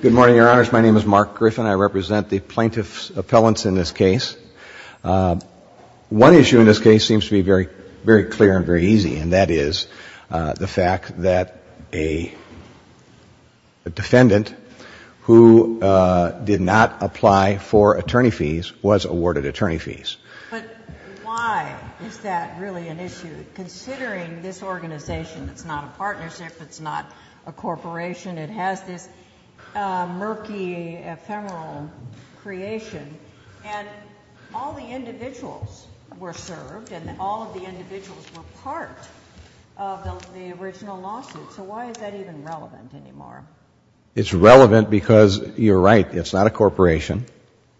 Good morning, Your Honors. My name is Mark Griffin. I represent the plaintiff's appellants in this case. One issue in this case seems to be very clear and very easy, and that is the fact that a defendant who did not apply for attorney fees was awarded attorney fees. But why is that really an issue, considering this organization is not a partnership, it's not a corporation, it has this murky, ephemeral creation, and all the individuals were served, and all of the individuals were part of the original lawsuit, so why is that even relevant anymore? It's relevant because, you're right, it's not a corporation,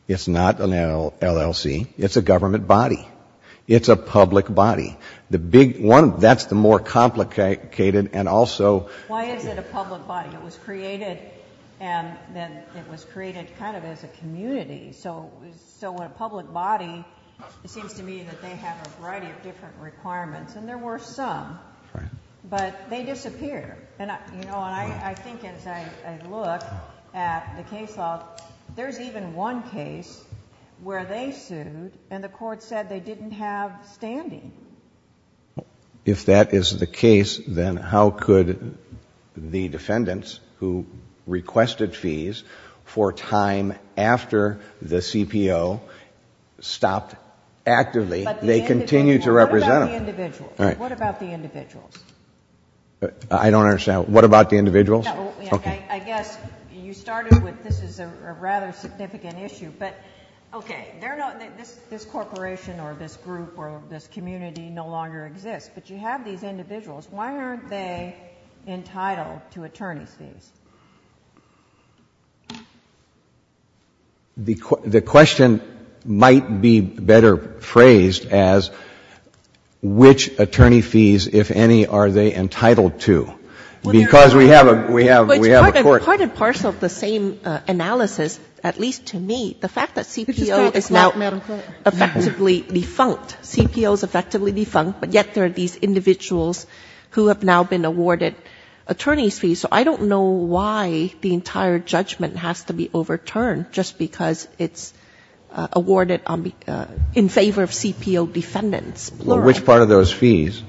it's not an LLC, it's a government body. It's a public body. The big one, that's the more complicated and also Why is it a public body? It was created and then it was created kind of as a community. So a public body, it seems to me that they have a variety of different requirements, and there were some, but they disappear. I think as I look at the case law, there's even one case where they sued and the court said they didn't have standing. If that is the case, then how could the defendants, who requested fees for time after the CPO stopped actively, they continue to represent them? What about the individuals? I don't understand. What about the individuals? I guess you started with this is a rather significant issue, but okay. This corporation or this group or this community no longer exists, but you have these individuals. Why aren't they entitled to attorney's fees? The question might be better phrased as which attorney fees, if any, are they entitled to? Because we have a court. Part and parcel of the same analysis, at least to me, the fact that CPO is now effectively defunct. CPO is effectively defunct, but yet there are these individuals who have now been awarded attorney's fees. So I don't know why the entire judgment has to be overturned just because it's awarded in favor of CPO defendants, plural. Which part of those fees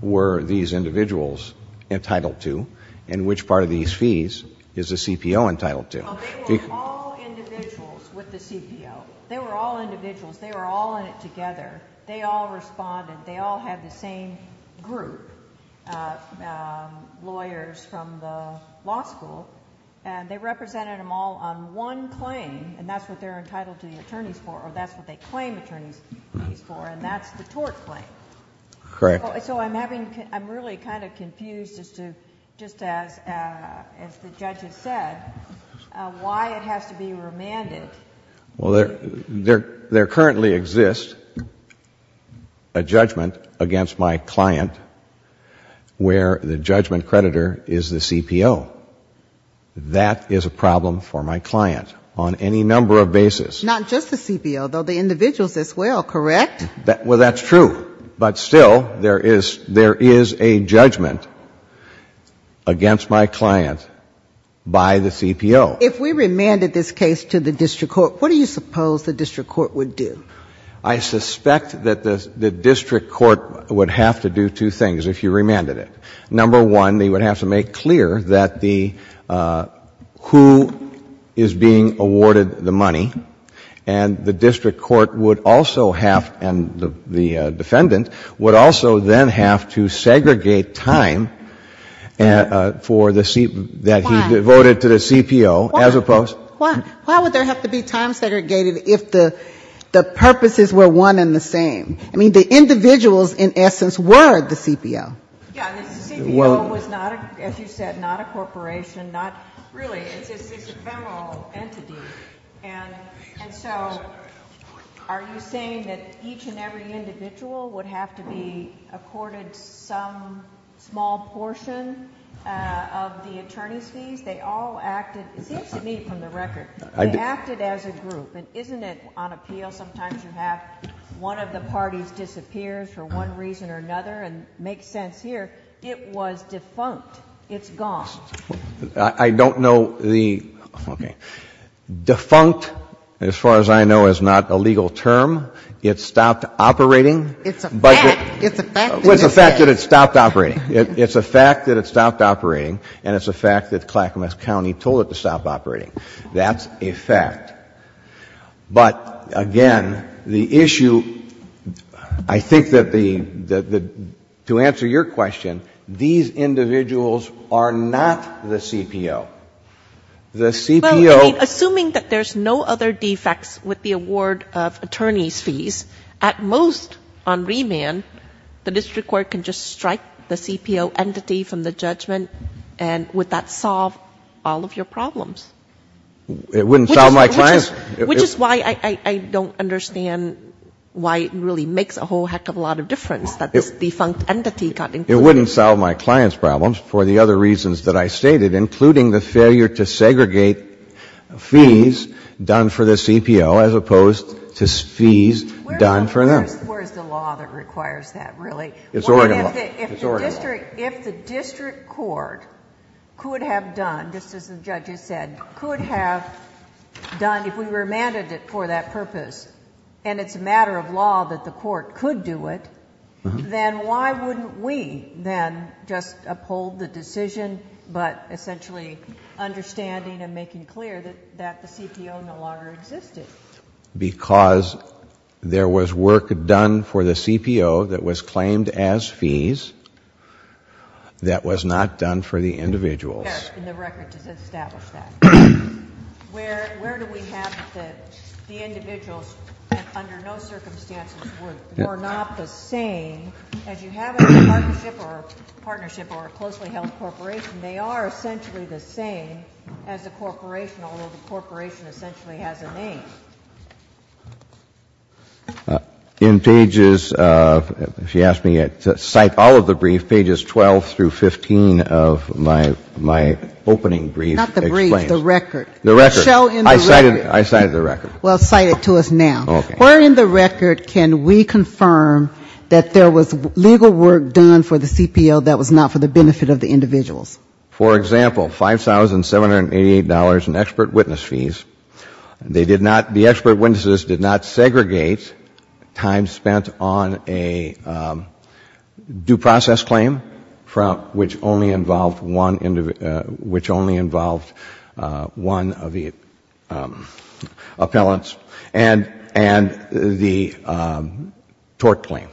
were these individuals entitled to, and which part of these fees is the CPO entitled to? They were all individuals with the CPO. They were all individuals. They were all in it together. They all responded. They all had the same group of lawyers from the law school, and they represented them all on one claim, and that's what they're entitled to the attorney's fees for, or that's what they claim attorney's fees for, and that's the tort claim. Correct. So I'm having, I'm really kind of confused as to, just as the judge has said, why it has to be remanded. Well, there currently exists a judgment against my client where the judgment creditor is the CPO. That is a problem for my client on any number of bases. Not just the CPO, though, the individuals as well, correct? Well, that's true. But still, there is a judgment against my client by the CPO. If we remanded this case to the district court, what do you suppose the district court would do? I suspect that the district court would have to do two things if you remanded it. Number one, they would have to make clear that the, who is being awarded the money, and the district court would also have, and the defendant, would also then have to segregate time for the, that he devoted to the CPO, as opposed. Why would there have to be time segregated if the purposes were one and the same? I mean, the individuals, in essence, were the CPO. Yeah, the CPO was not, as you said, not a corporation, not really, it's a federal entity. And so, are you saying that each and every individual would have to be accorded some small portion of the attorney's fees? They all acted, it seems to me from the record, they acted as a group. And isn't it on appeal, sometimes you have one of the parties disappears for one reason or another, and it makes sense here, it was defunct. It's gone. I don't know the, okay. Defunct, as far as I know, is not a legal term. It stopped operating. It's a fact. It's a fact that it stopped operating. It's a fact that it stopped operating, and it's a fact that Clackamas County told it to stop operating. That's a fact. But, again, the issue, I think that the, to answer your question, these individuals are not the CPO. The CPO. Well, I mean, assuming that there's no other defects with the award of attorney's fees, at most on remand, the district court can just strike the CPO entity from the judgment, and would that solve all of your problems? It wouldn't solve my client's. Which is why I don't understand why it really makes a whole heck of a lot of difference that this defunct entity got included. It wouldn't solve my client's problems for the other reasons that I stated, including the failure to segregate fees done for the CPO as opposed to fees done for them. Where is the law that requires that, really? It's Oregon law. If the district court could have done, just as the judges said, could have done, if we remanded it for that purpose, and it's a matter of law that the court could do it, then why wouldn't we then just uphold the decision, but essentially understanding and making clear that the CPO no longer existed? Because there was work done for the CPO that was claimed as fees that was not done for the individuals. Yes, and the record does establish that. Where do we have that the individuals, under no circumstances, were not the same, as you have in a partnership or a closely held corporation, they are essentially the same as a corporation, although the corporation essentially has a name? In pages, if you ask me to cite all of the brief, pages 12 through 15 of my opening brief explains. Not the brief, the record. The record. Show in the record. I cited the record. Well, cite it to us now. Okay. Where in the record can we confirm that there was legal work done for the CPO that was not for the benefit of the individuals? For example, $5,788 in expert witness fees. They did not, the expert witnesses did not segregate time spent on a due process claim from, which only involved one individual, which only involved one of the appellants and the tort claim.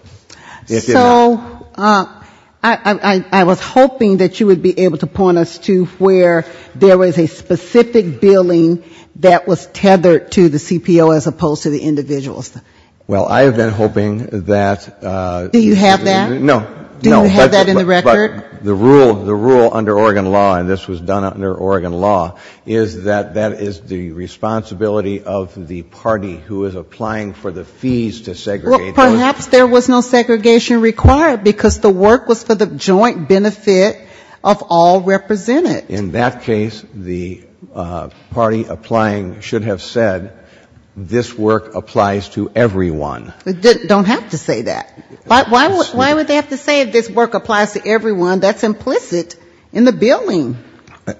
So I was hoping that you would be able to point us to where there was a specific billing that was tethered to the CPO as opposed to the individuals. Well, I have been hoping that. Do you have that? No. Do you have that in the record? But the rule under Oregon law, and this was done under Oregon law, is that that is the responsibility of the party who is applying for the fees to segregate those. Perhaps there was no segregation required because the work was for the joint benefit of all represented. In that case, the party applying should have said this work applies to everyone. They don't have to say that. Why would they have to say this work applies to everyone? That's implicit in the billing.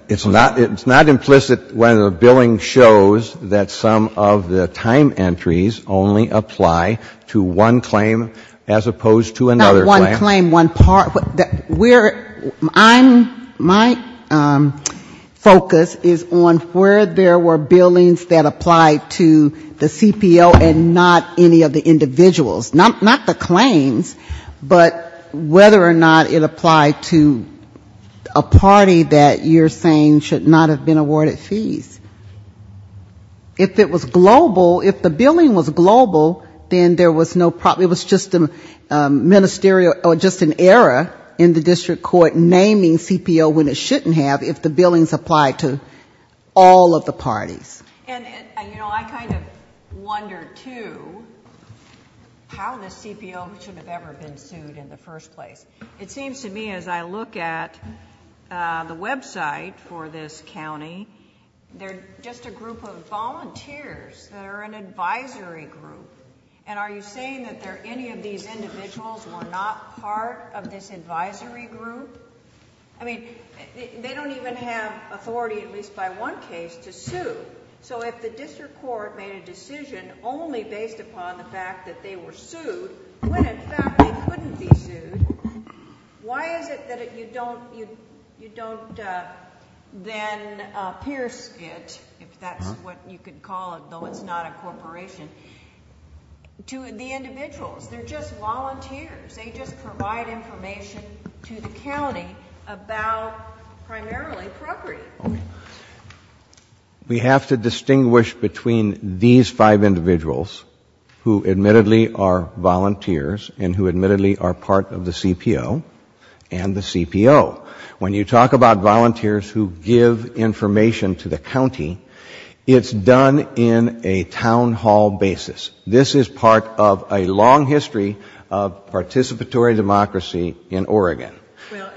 It's not implicit when the billing shows that some of the time entries only apply to one claim as opposed to another claim. Not one claim, one part. My focus is on where there were billings that applied to the CPO and not any of the individuals. Not the claims, but whether or not it applied to a party that you're saying should not have been awarded fees. If it was global, if the billing was global, then there was no problem. It was just an era in the district court naming CPO when it shouldn't have if the billings applied to all of the parties. And, you know, I kind of wonder, too, how the CPO should have ever been sued in the first place. It seems to me as I look at the website for this county, they're just a group of volunteers that are an advisory group. And are you saying that any of these individuals were not part of this advisory group? I mean, they don't even have authority, at least by one case, to sue. So if the district court made a decision only based upon the fact that they were Why is it that you don't then pierce it, if that's what you could call it, though it's not a corporation, to the individuals? They're just volunteers. They just provide information to the county about primarily property. We have to distinguish between these five individuals who admittedly are CPO and the CPO. When you talk about volunteers who give information to the county, it's done in a town hall basis. This is part of a long history of participatory democracy in Oregon.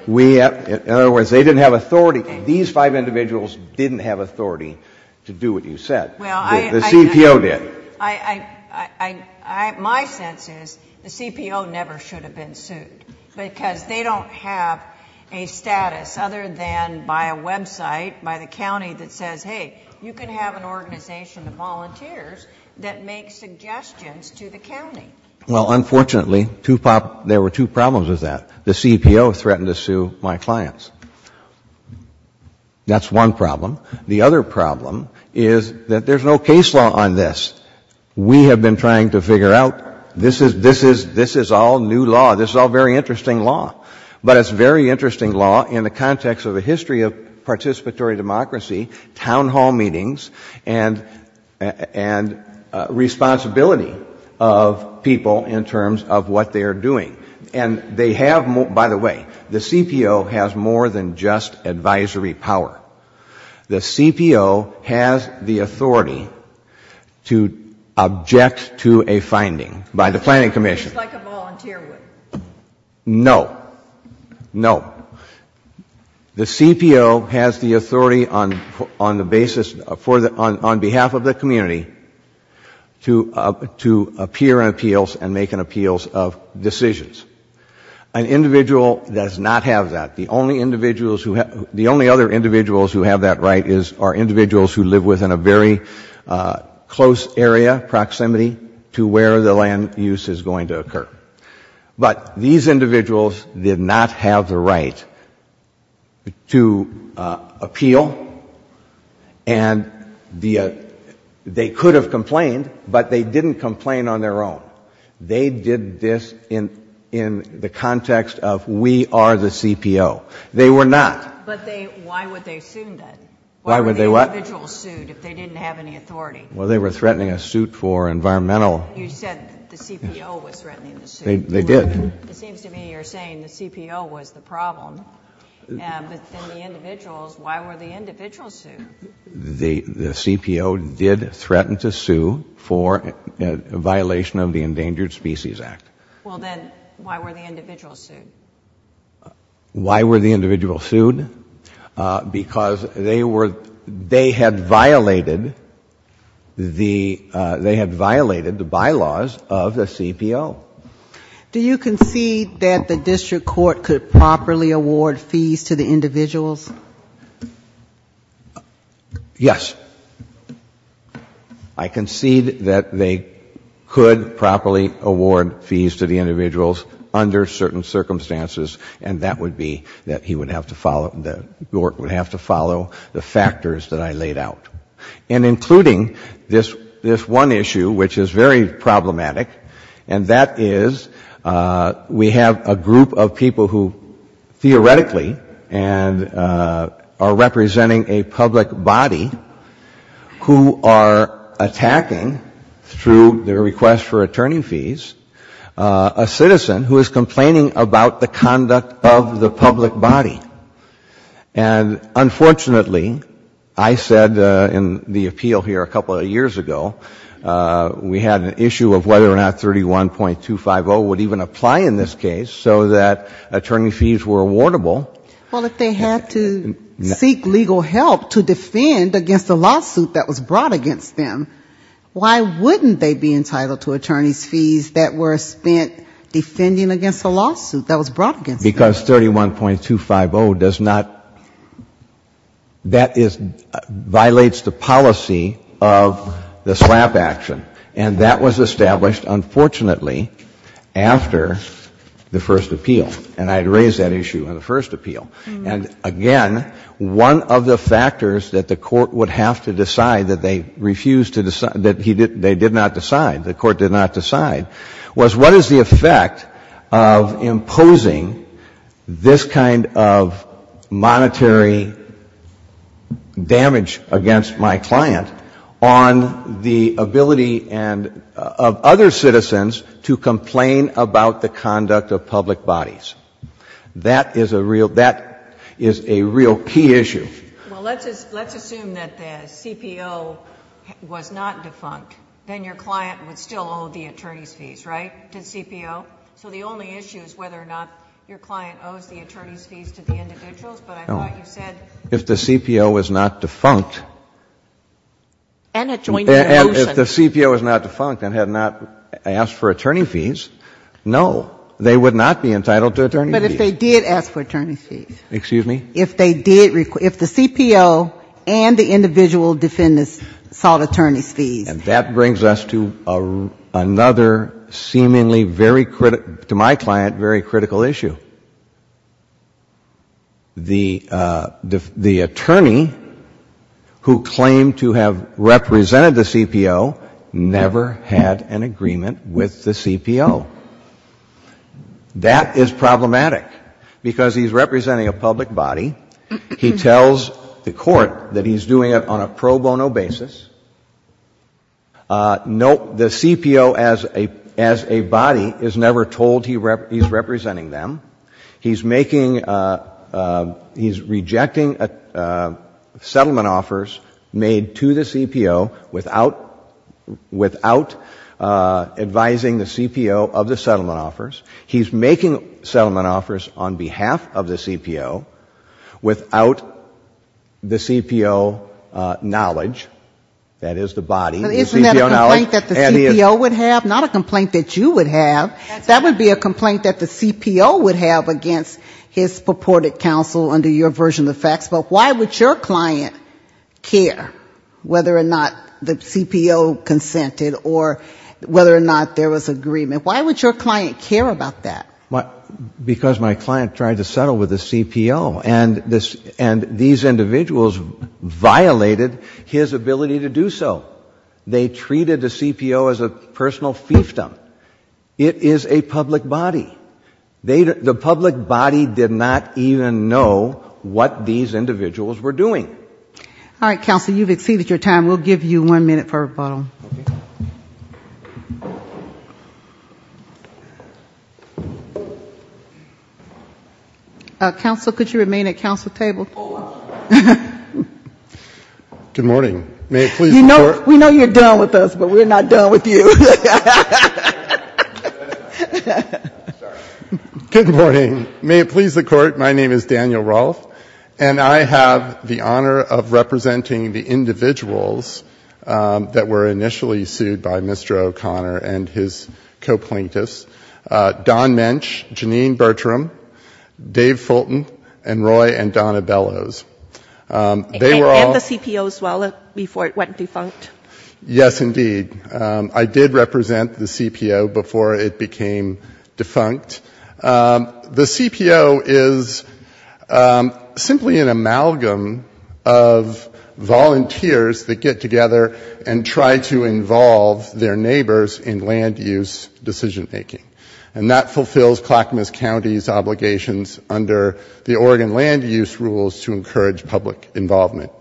In other words, they didn't have authority. These five individuals didn't have authority to do what you said. The CPO did. My sense is the CPO never should have been sued because they don't have a status other than by a website by the county that says, hey, you can have an organization of volunteers that make suggestions to the county. Well, unfortunately, there were two problems with that. The CPO threatened to sue my clients. That's one problem. The other problem is that there's no case law on this. We have been trying to figure out this is all new law. This is all very interesting law. But it's very interesting law in the context of a history of participatory democracy, town hall meetings, and responsibility of people in terms of what they are doing. By the way, the CPO has more than just advisory power. The CPO has the authority to object to a finding by the Planning Commission. It's like a volunteer would. No. No. The CPO has the authority on behalf of the community to appear in appeals and make an appeals of decisions. An individual does not have that. The only other individuals who have that right are individuals who live within a very close area, proximity to where the land use is going to occur. But these individuals did not have the right to appeal. And they could have complained, but they didn't complain on their own. They did this in the context of we are the CPO. They were not. But why would they have sued then? Why were the individuals sued if they didn't have any authority? Well, they were threatening a suit for environmental. You said the CPO was threatening the suit. They did. It seems to me you're saying the CPO was the problem. But then the individuals, why were the individuals sued? The CPO did threaten to sue for a violation of the Endangered Species Act. Well, then why were the individuals sued? Why were the individuals sued? Because they had violated the bylaws of the CPO. Do you concede that the district court could properly award fees to the individuals? Yes. I concede that they could properly award fees to the individuals under certain circumstances, and that would be that he would have to follow, the court would have to follow the factors that I laid out. And including this one issue, which is very problematic, and that is we have a group of people who theoretically are representing a public body who are attacking, through their request for attorney fees, a citizen who is complaining about the conduct of the public body. And unfortunately, I said in the appeal here a couple of years ago, we had an issue of whether or not 31.250 would even apply in this case so that attorney fees were awardable. Well, if they had to seek legal help to defend against a lawsuit that was brought against them, why wouldn't they be entitled to attorney's fees that were spent defending against a lawsuit that was brought against them? Because 31.250 does not, that is, violates the policy of the slap action. And that was established, unfortunately, after the first appeal. And I had raised that issue in the first appeal. And again, one of the factors that the court would have to decide that they refused to decide, that they did not decide, the court did not decide, was what is the effect of imposing this kind of monetary damage against my client on the ability of other citizens to complain about the conduct of public bodies? That is a real, that is a real key issue. Well, let's assume that the CPO was not defunct. Then your client would still owe the attorney's fees, right? To the CPO. So the only issue is whether or not your client owes the attorney's fees to the individuals, but I thought you said. No. If the CPO was not defunct. And adjoined to the motion. And if the CPO was not defunct and had not asked for attorney fees, no, they would not be entitled to attorney fees. But if they did ask for attorney's fees. Excuse me? If they did, if the CPO and the individual defendants sought attorney's fees. And that brings us to another seemingly very, to my client, very critical issue. The attorney who claimed to have represented the CPO never had an agreement with the CPO. That is problematic. Because he's representing a public body. He tells the court that he's doing it on a pro bono basis. Note the CPO as a body is never told he's representing them. He's making, he's rejecting settlement offers made to the CPO without advising the CPO of the settlement offers. He's making settlement offers on behalf of the CPO without the CPO knowledge, that is the body. Isn't that a complaint that the CPO would have? Not a complaint that you would have. That would be a complaint that the CPO would have against his purported counsel under your version of the facts. But why would your client care whether or not the CPO consented or whether or not there was agreement? Why would your client care about that? Because my client tried to settle with the CPO. And these individuals violated his ability to do so. They treated the CPO as a personal fiefdom. It is a public body. The public body did not even know what these individuals were doing. All right, counsel, you've exceeded your time. We'll give you one minute for a rebuttal. Counsel, could you remain at counsel table? Good morning. May it please the court. We know you're done with us, but we're not done with you. Good morning. May it please the court. My name is Daniel Rolf, and I have the honor of representing the individuals that were initially sued by Mr. O'Connor and his co-plaintiffs, Don Mensch, Janine Bertram, Dave Fulton, and Roy and Donna Bellows. They were all ---- And the CPO as well, before it went defunct? Yes, indeed. I did represent the CPO before it became defunct. The CPO is simply an amalgam of volunteers that get together and try to involve their neighbors in land use decision making. And that fulfills Clackamas County's obligations under the Oregon land use rules to encourage public involvement.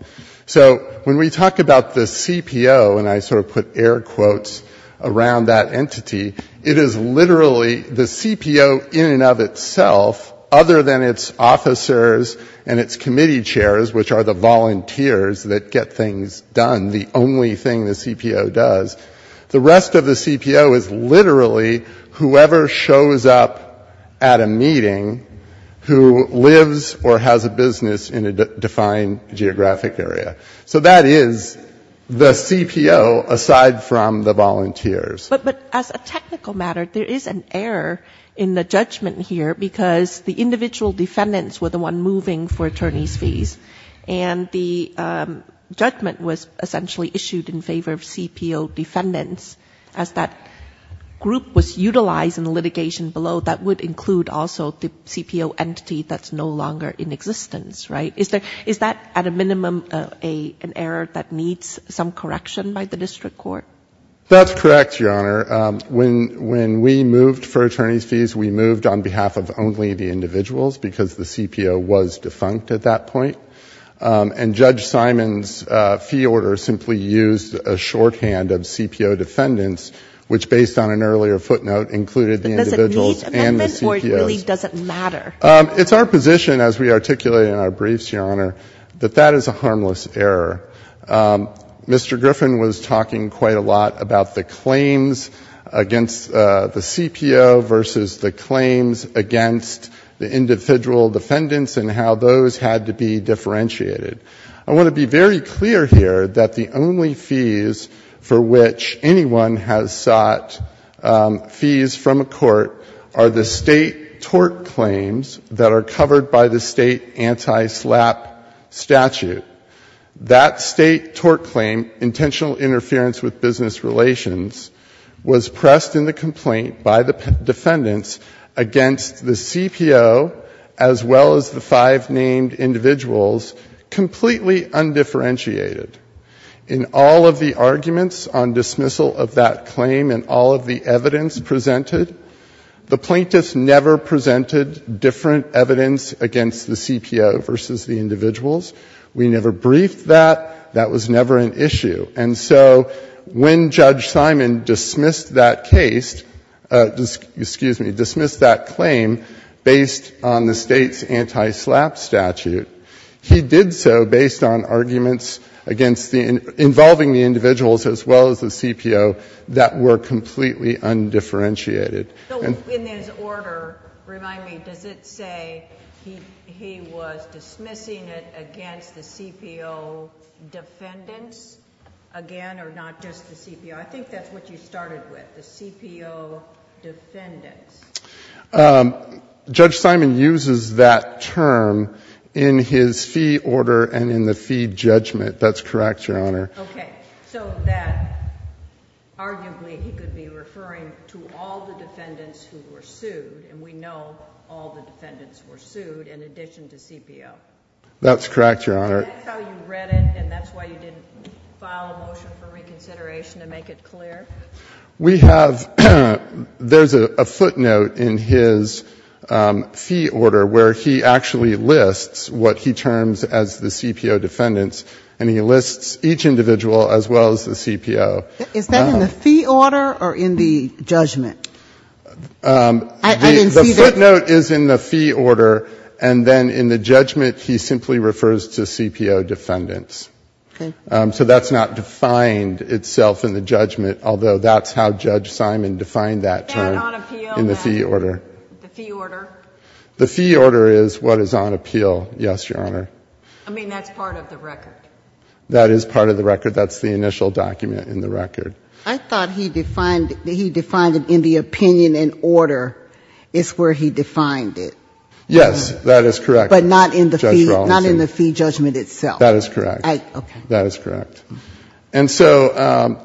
So when we talk about the CPO, and I sort of put air quotes around that entity, it is literally the CPO in and of itself, other than its officers and its committee chairs, which are the volunteers that get things done, the only thing the CPO does, the rest of the CPO is literally whoever shows up at a meeting who lives or has a business in a defined geographic area. So that is the CPO aside from the volunteers. But as a technical matter, there is an error in the judgment here because the individual defendants were the one moving for attorneys' fees, and the judgment was essentially issued in favor of CPO defendants as that group was utilized in the litigation below that would include also the CPO entity that is no longer in existence, right? Is that at a minimum an error that needs some correction by the district court? That's correct, Your Honor. When we moved for attorneys' fees, we moved on behalf of only the individuals because the CPO was defunct at that point. And Judge Simon's fee order simply used a shorthand of CPO defendants, which based on an earlier footnote included the individuals and the CPOs. But does it meet amendment or it really doesn't matter? It's our position as we articulate in our briefs, Your Honor, that that is a harmless error. Mr. Griffin was talking quite a lot about the claims against the CPO versus the claims against the individual defendants and how those had to be differentiated. I want to be very clear here that the only fees for which anyone has sought fees from a court are the State tort claims that are covered by the State anti-SLAPP statute. That State tort claim, intentional interference with business relations, was pressed in the complaint by the defendants against the CPO as well as the five named individuals, completely undifferentiated. In all of the arguments on dismissal of that claim and all of the evidence presented, the plaintiffs never presented different evidence against the CPO versus the individuals. We never briefed that. That was never an issue. And so when Judge Simon dismissed that case — excuse me, dismissed that claim based on the State's anti-SLAPP statute, he did so based on arguments against the — involving the individuals as well as the CPO that were completely undifferentiated. And — And he did so based on arguments against the CPO defendants again or not just the CPO? I think that's what you started with, the CPO defendants. Judge Simon uses that term in his fee order and in the fee judgment. That's correct, Your Honor. Okay. So that arguably he could be referring to all the defendants who were sued, and we know all the defendants were sued in addition to CPO. That's correct, Your Honor. And that's how you read it, and that's why you didn't file a motion for reconsideration to make it clear? We have — there's a footnote in his fee order where he actually lists what he terms as the CPO defendants, and he lists each individual as well as the CPO. Is that in the fee order or in the judgment? I didn't see that. The footnote is in the fee order, and then in the judgment he simply refers to CPO defendants. Okay. So that's not defined itself in the judgment, although that's how Judge Simon defined that term. Is that on appeal? In the fee order. The fee order? The fee order is what is on appeal, yes, Your Honor. I mean, that's part of the record. That is part of the record. That's the initial document in the record. I thought he defined it in the opinion and order is where he defined it. Yes, that is correct. But not in the fee judgment itself. That is correct. Okay. That is correct. And so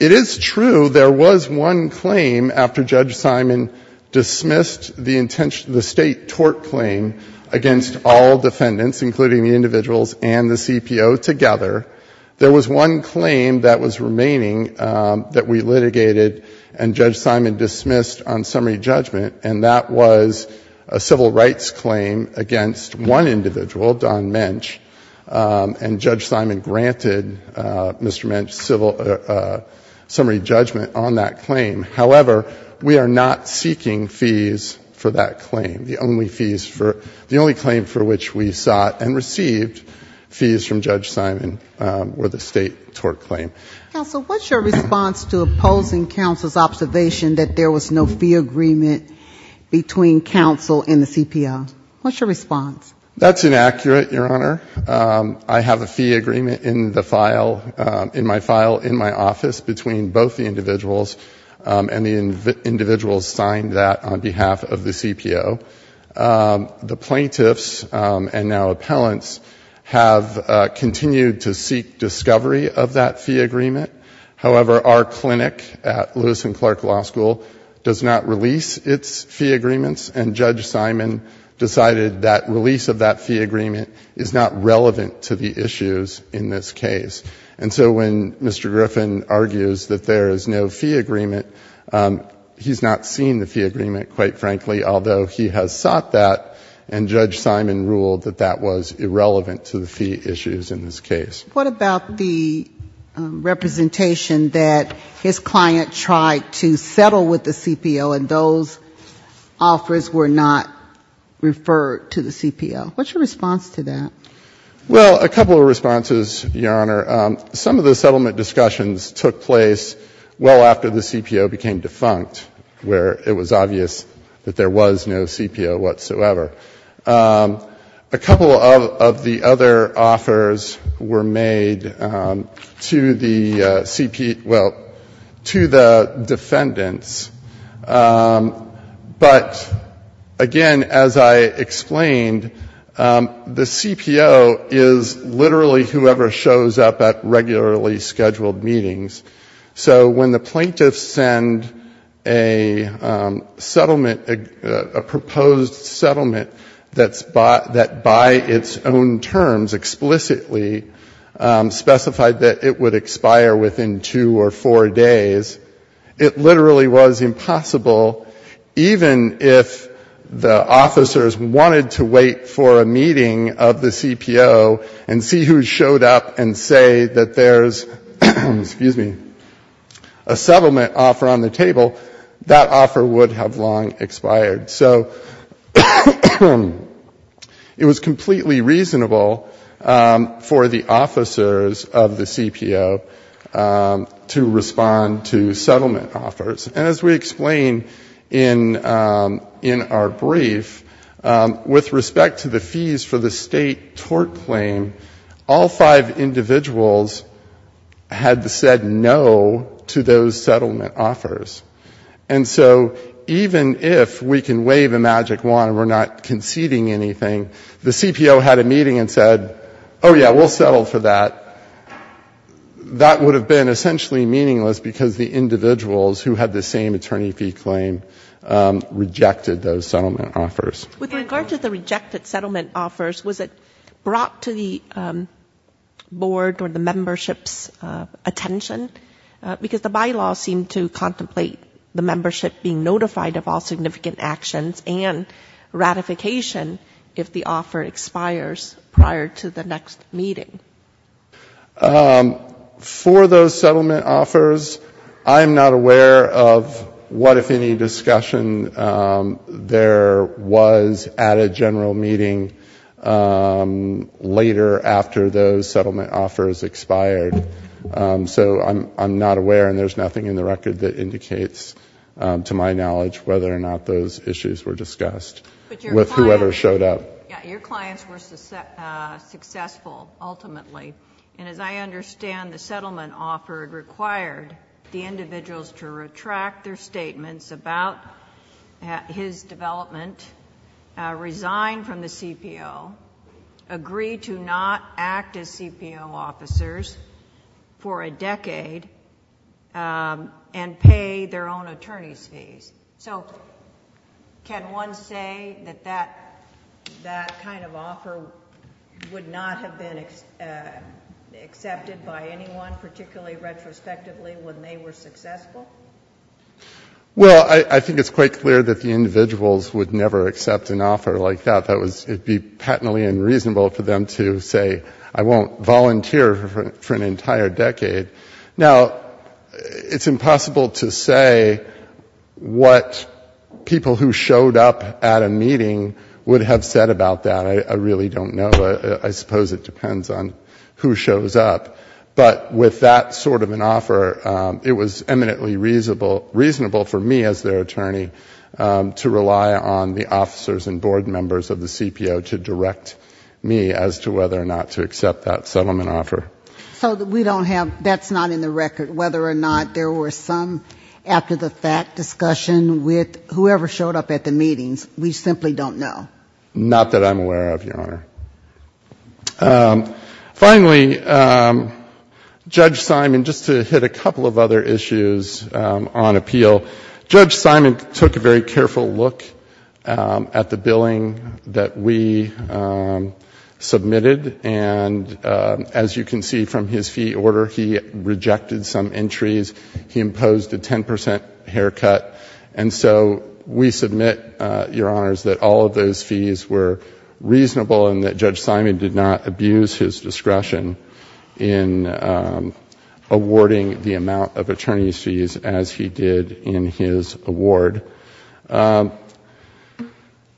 it is true there was one claim after Judge Simon dismissed the State tort claim against all defendants, including the individuals and the CPO together, there was one claim that was remaining that we litigated and Judge Simon dismissed on summary judgment, and that was a civil rights claim against one individual, Don Mensch, and Judge Simon granted Mr. Mensch's summary judgment on that claim. However, we are not seeking fees for that claim. The only claim for which we sought and received fees from Judge Simon were the State tort claim. Counsel, what's your response to opposing counsel's observation that there was no fee agreement between counsel and the CPO? What's your response? That's inaccurate, Your Honor. I have a fee agreement in my file in my office between both the individuals and the individuals signed that on behalf of the CPO. The plaintiffs and now appellants have continued to seek discovery of that fee agreement. However, our clinic at Lewis and Clark Law School does not release its fee agreements, and Judge Simon decided that release of that fee agreement is not relevant to the issues in this case. And so when Mr. Griffin argues that there is no fee agreement, he's not seen the fee agreement, quite frankly, although he has sought that, and Judge Simon ruled that that was irrelevant to the fee issues in this case. What about the representation that his client tried to settle with the CPO and those offers were not referred to the CPO? What's your response to that? Well, a couple of responses, Your Honor. Some of the settlement discussions took place well after the CPO became defunct, where it was obvious that there was no CPO whatsoever. A couple of the other offers were made to the CPO — well, to the defendants. But again, as I explained, the CPO is literally whoever shows up at regularly scheduled meetings. So when the plaintiffs send a settlement, a proposed settlement that by its own terms explicitly specified that it would expire within two or four days, it literally was in possible, even if the officers wanted to wait for a meeting of the CPO and see who showed up and say that there's a settlement offer on the table, that offer would have long expired. So it was completely reasonable for the officers of the CPO to respond to settlement offers. And as we explain in our brief, with respect to the fees for the state tort claim, all five individuals had said no to those settlement offers. And so even if we can wave a magic wand and we're not conceding anything, the CPO had a meeting and said, oh, yeah, we'll settle for that. That would have been essentially meaningless because the individuals who had the same attorney fee claim rejected those settlement offers. With regard to the rejected settlement offers, was it brought to the board or the membership's attention? Because the bylaw seemed to contemplate the membership being notified of all significant actions and ratification if the offer expires prior to the next meeting. For those settlement offers, I'm not aware of what, if any, discussion there was at a general meeting later after those settlement offers expired. So I'm not aware. And there's nothing in the record that indicates to my knowledge whether or not those issues were discussed with whoever showed up. Your clients were successful, ultimately. And as I understand, the settlement offer required the individuals to retract their statements about his development, resign from the CPO, agree to not act as CPO officers for a decade, and pay their own attorney's fees. So can one say that that kind of offer would not have been accepted by anyone, particularly retrospectively, when they were successful? Well, I think it's quite clear that the individuals would never accept an offer like that. It would be patently unreasonable for them to say, I won't volunteer for an entire decade. Now, it's impossible to say what people who showed up at a meeting would have said about that. I really don't know. I suppose it depends on who shows up. But with that sort of an offer, it was eminently reasonable for me as their attorney to rely on the officers and board members of the CPO to direct me as to whether or not to accept that settlement offer. So we don't have, that's not in the record, whether or not there were some after-the-fact discussion with whoever showed up at the meetings. We simply don't know. Not that I'm aware of, Your Honor. Finally, Judge Simon, just to hit a couple of other issues on appeal, Judge Simon took a very careful look at the billing that we submitted, and as you can see from his fee order, he rejected some entries. He imposed a 10 percent haircut. And so we submit, Your Honors, that all of those fees were reasonable and that Judge Simon did not abuse his discretion in awarding the amount of attorney's fees as he did in his award.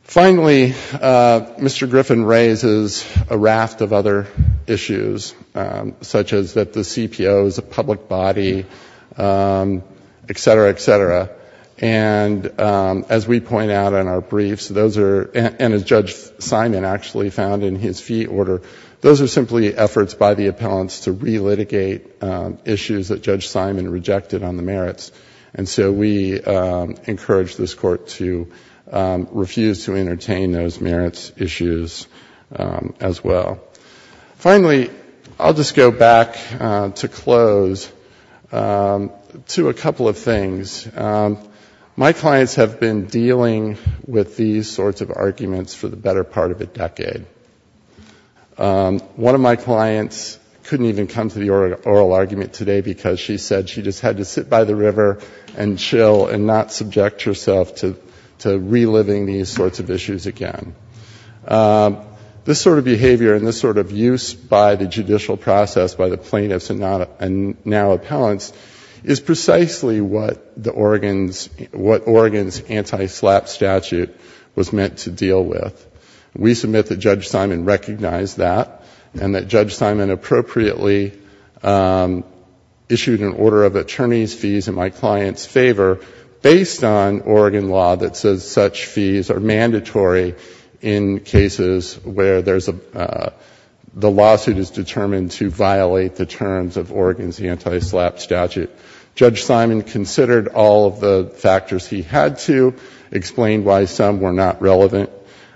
Finally, Mr. Griffin raises a raft of other issues, such as that the CPO is a public body, et cetera, et cetera. And as we point out in our briefs, those are, and as Judge Simon actually found in his fee order, those are simply efforts by the appellants to relitigate issues that Judge Simon rejected on the merits. And so we encourage this Court to refuse to entertain those merits issues as well. Finally, I'll just go back to close to a couple of things. My clients have been dealing with these sorts of arguments for the better part of a decade. One of my clients couldn't even come to the oral argument today because she said she just had to sit by the river and chill and not subject herself to reliving these sorts of issues again. This sort of behavior and this sort of use by the judicial process by the plaintiffs and now appellants is precisely what the Oregon's, what Oregon's anti-SLAPP statute was meant to deal with. We submit that Judge Simon recognized that and that Judge Simon appropriately issued an order of attorney's fees in my client's favor based on Oregon law that says such fees are mandatory in cases where there's a, the lawsuit is determined to violate the terms of Oregon's anti-SLAPP statute. Judge Simon considered all of the factors he had to, explained why some were not relevant,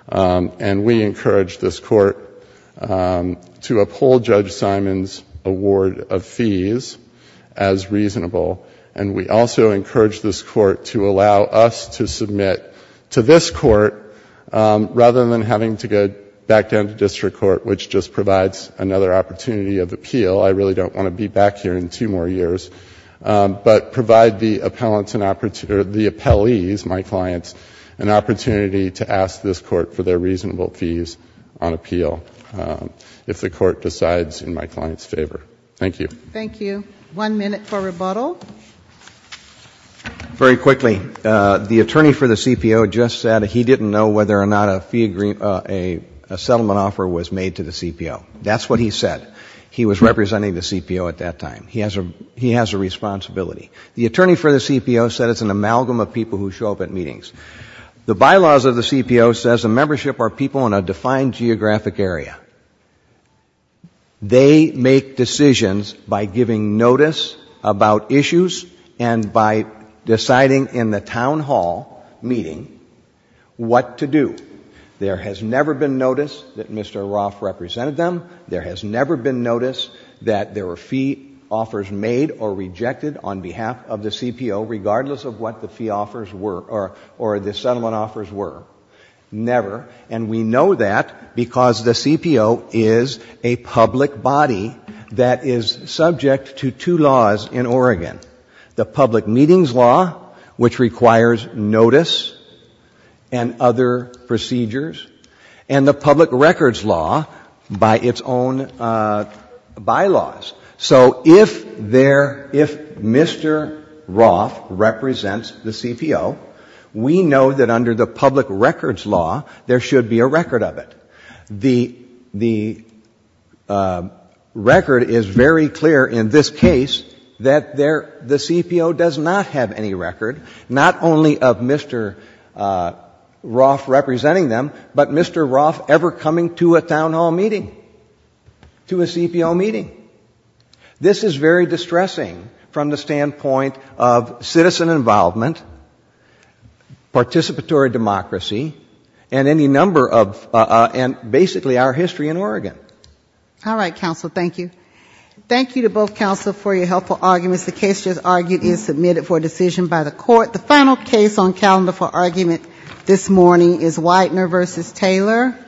and we encourage this Court to uphold Judge Simon's award of fees as reasonable, and we also encourage this Court to allow us to submit to this Court rather than having to go back down to district court, which just provides another opportunity of appeal. I really don't want to be back here in two more years, but provide the appellants, the appellees, my clients, an opportunity to appeal if the Court decides in my client's favor. Thank you. Thank you. One minute for rebuttal. Very quickly, the attorney for the CPO just said he didn't know whether or not a settlement offer was made to the CPO. That's what he said. He was representing the CPO at that time. He has a responsibility. The attorney for the CPO said it's an amalgam of people who show up at meetings. The bylaws of the CPO says the membership are people in a defined geographic area. They make decisions by giving notice about issues and by deciding in the town hall meeting what to do. There has never been notice that Mr. Roth represented them. There has never been notice that there were fee offers made or rejected on behalf of the CPO, regardless of what the fee offers were or the settlement offers were. Never. And we know that because the CPO is a public body that is subject to two laws in Oregon. The public meetings law, which requires notice and other procedures, and the public records law by its own bylaws. So if there, if Mr. Roth represents the CPO, we know that under the public records law, there should be a record of it. The record is very clear in this case that the CPO does not have any record, not only of Mr. Roth representing them, but Mr. Roth ever coming to a town hall meeting, to a CPO meeting. This is very distressing from the standpoint of citizen involvement, participatory democracy, and any number of, and basically our history in Oregon. All right, counsel. Thank you. Thank you to both counsel for your helpful arguments. The case just argued is submitted for decision by the court. The final case on calendar for argument this morning is Whitener v. Taylor.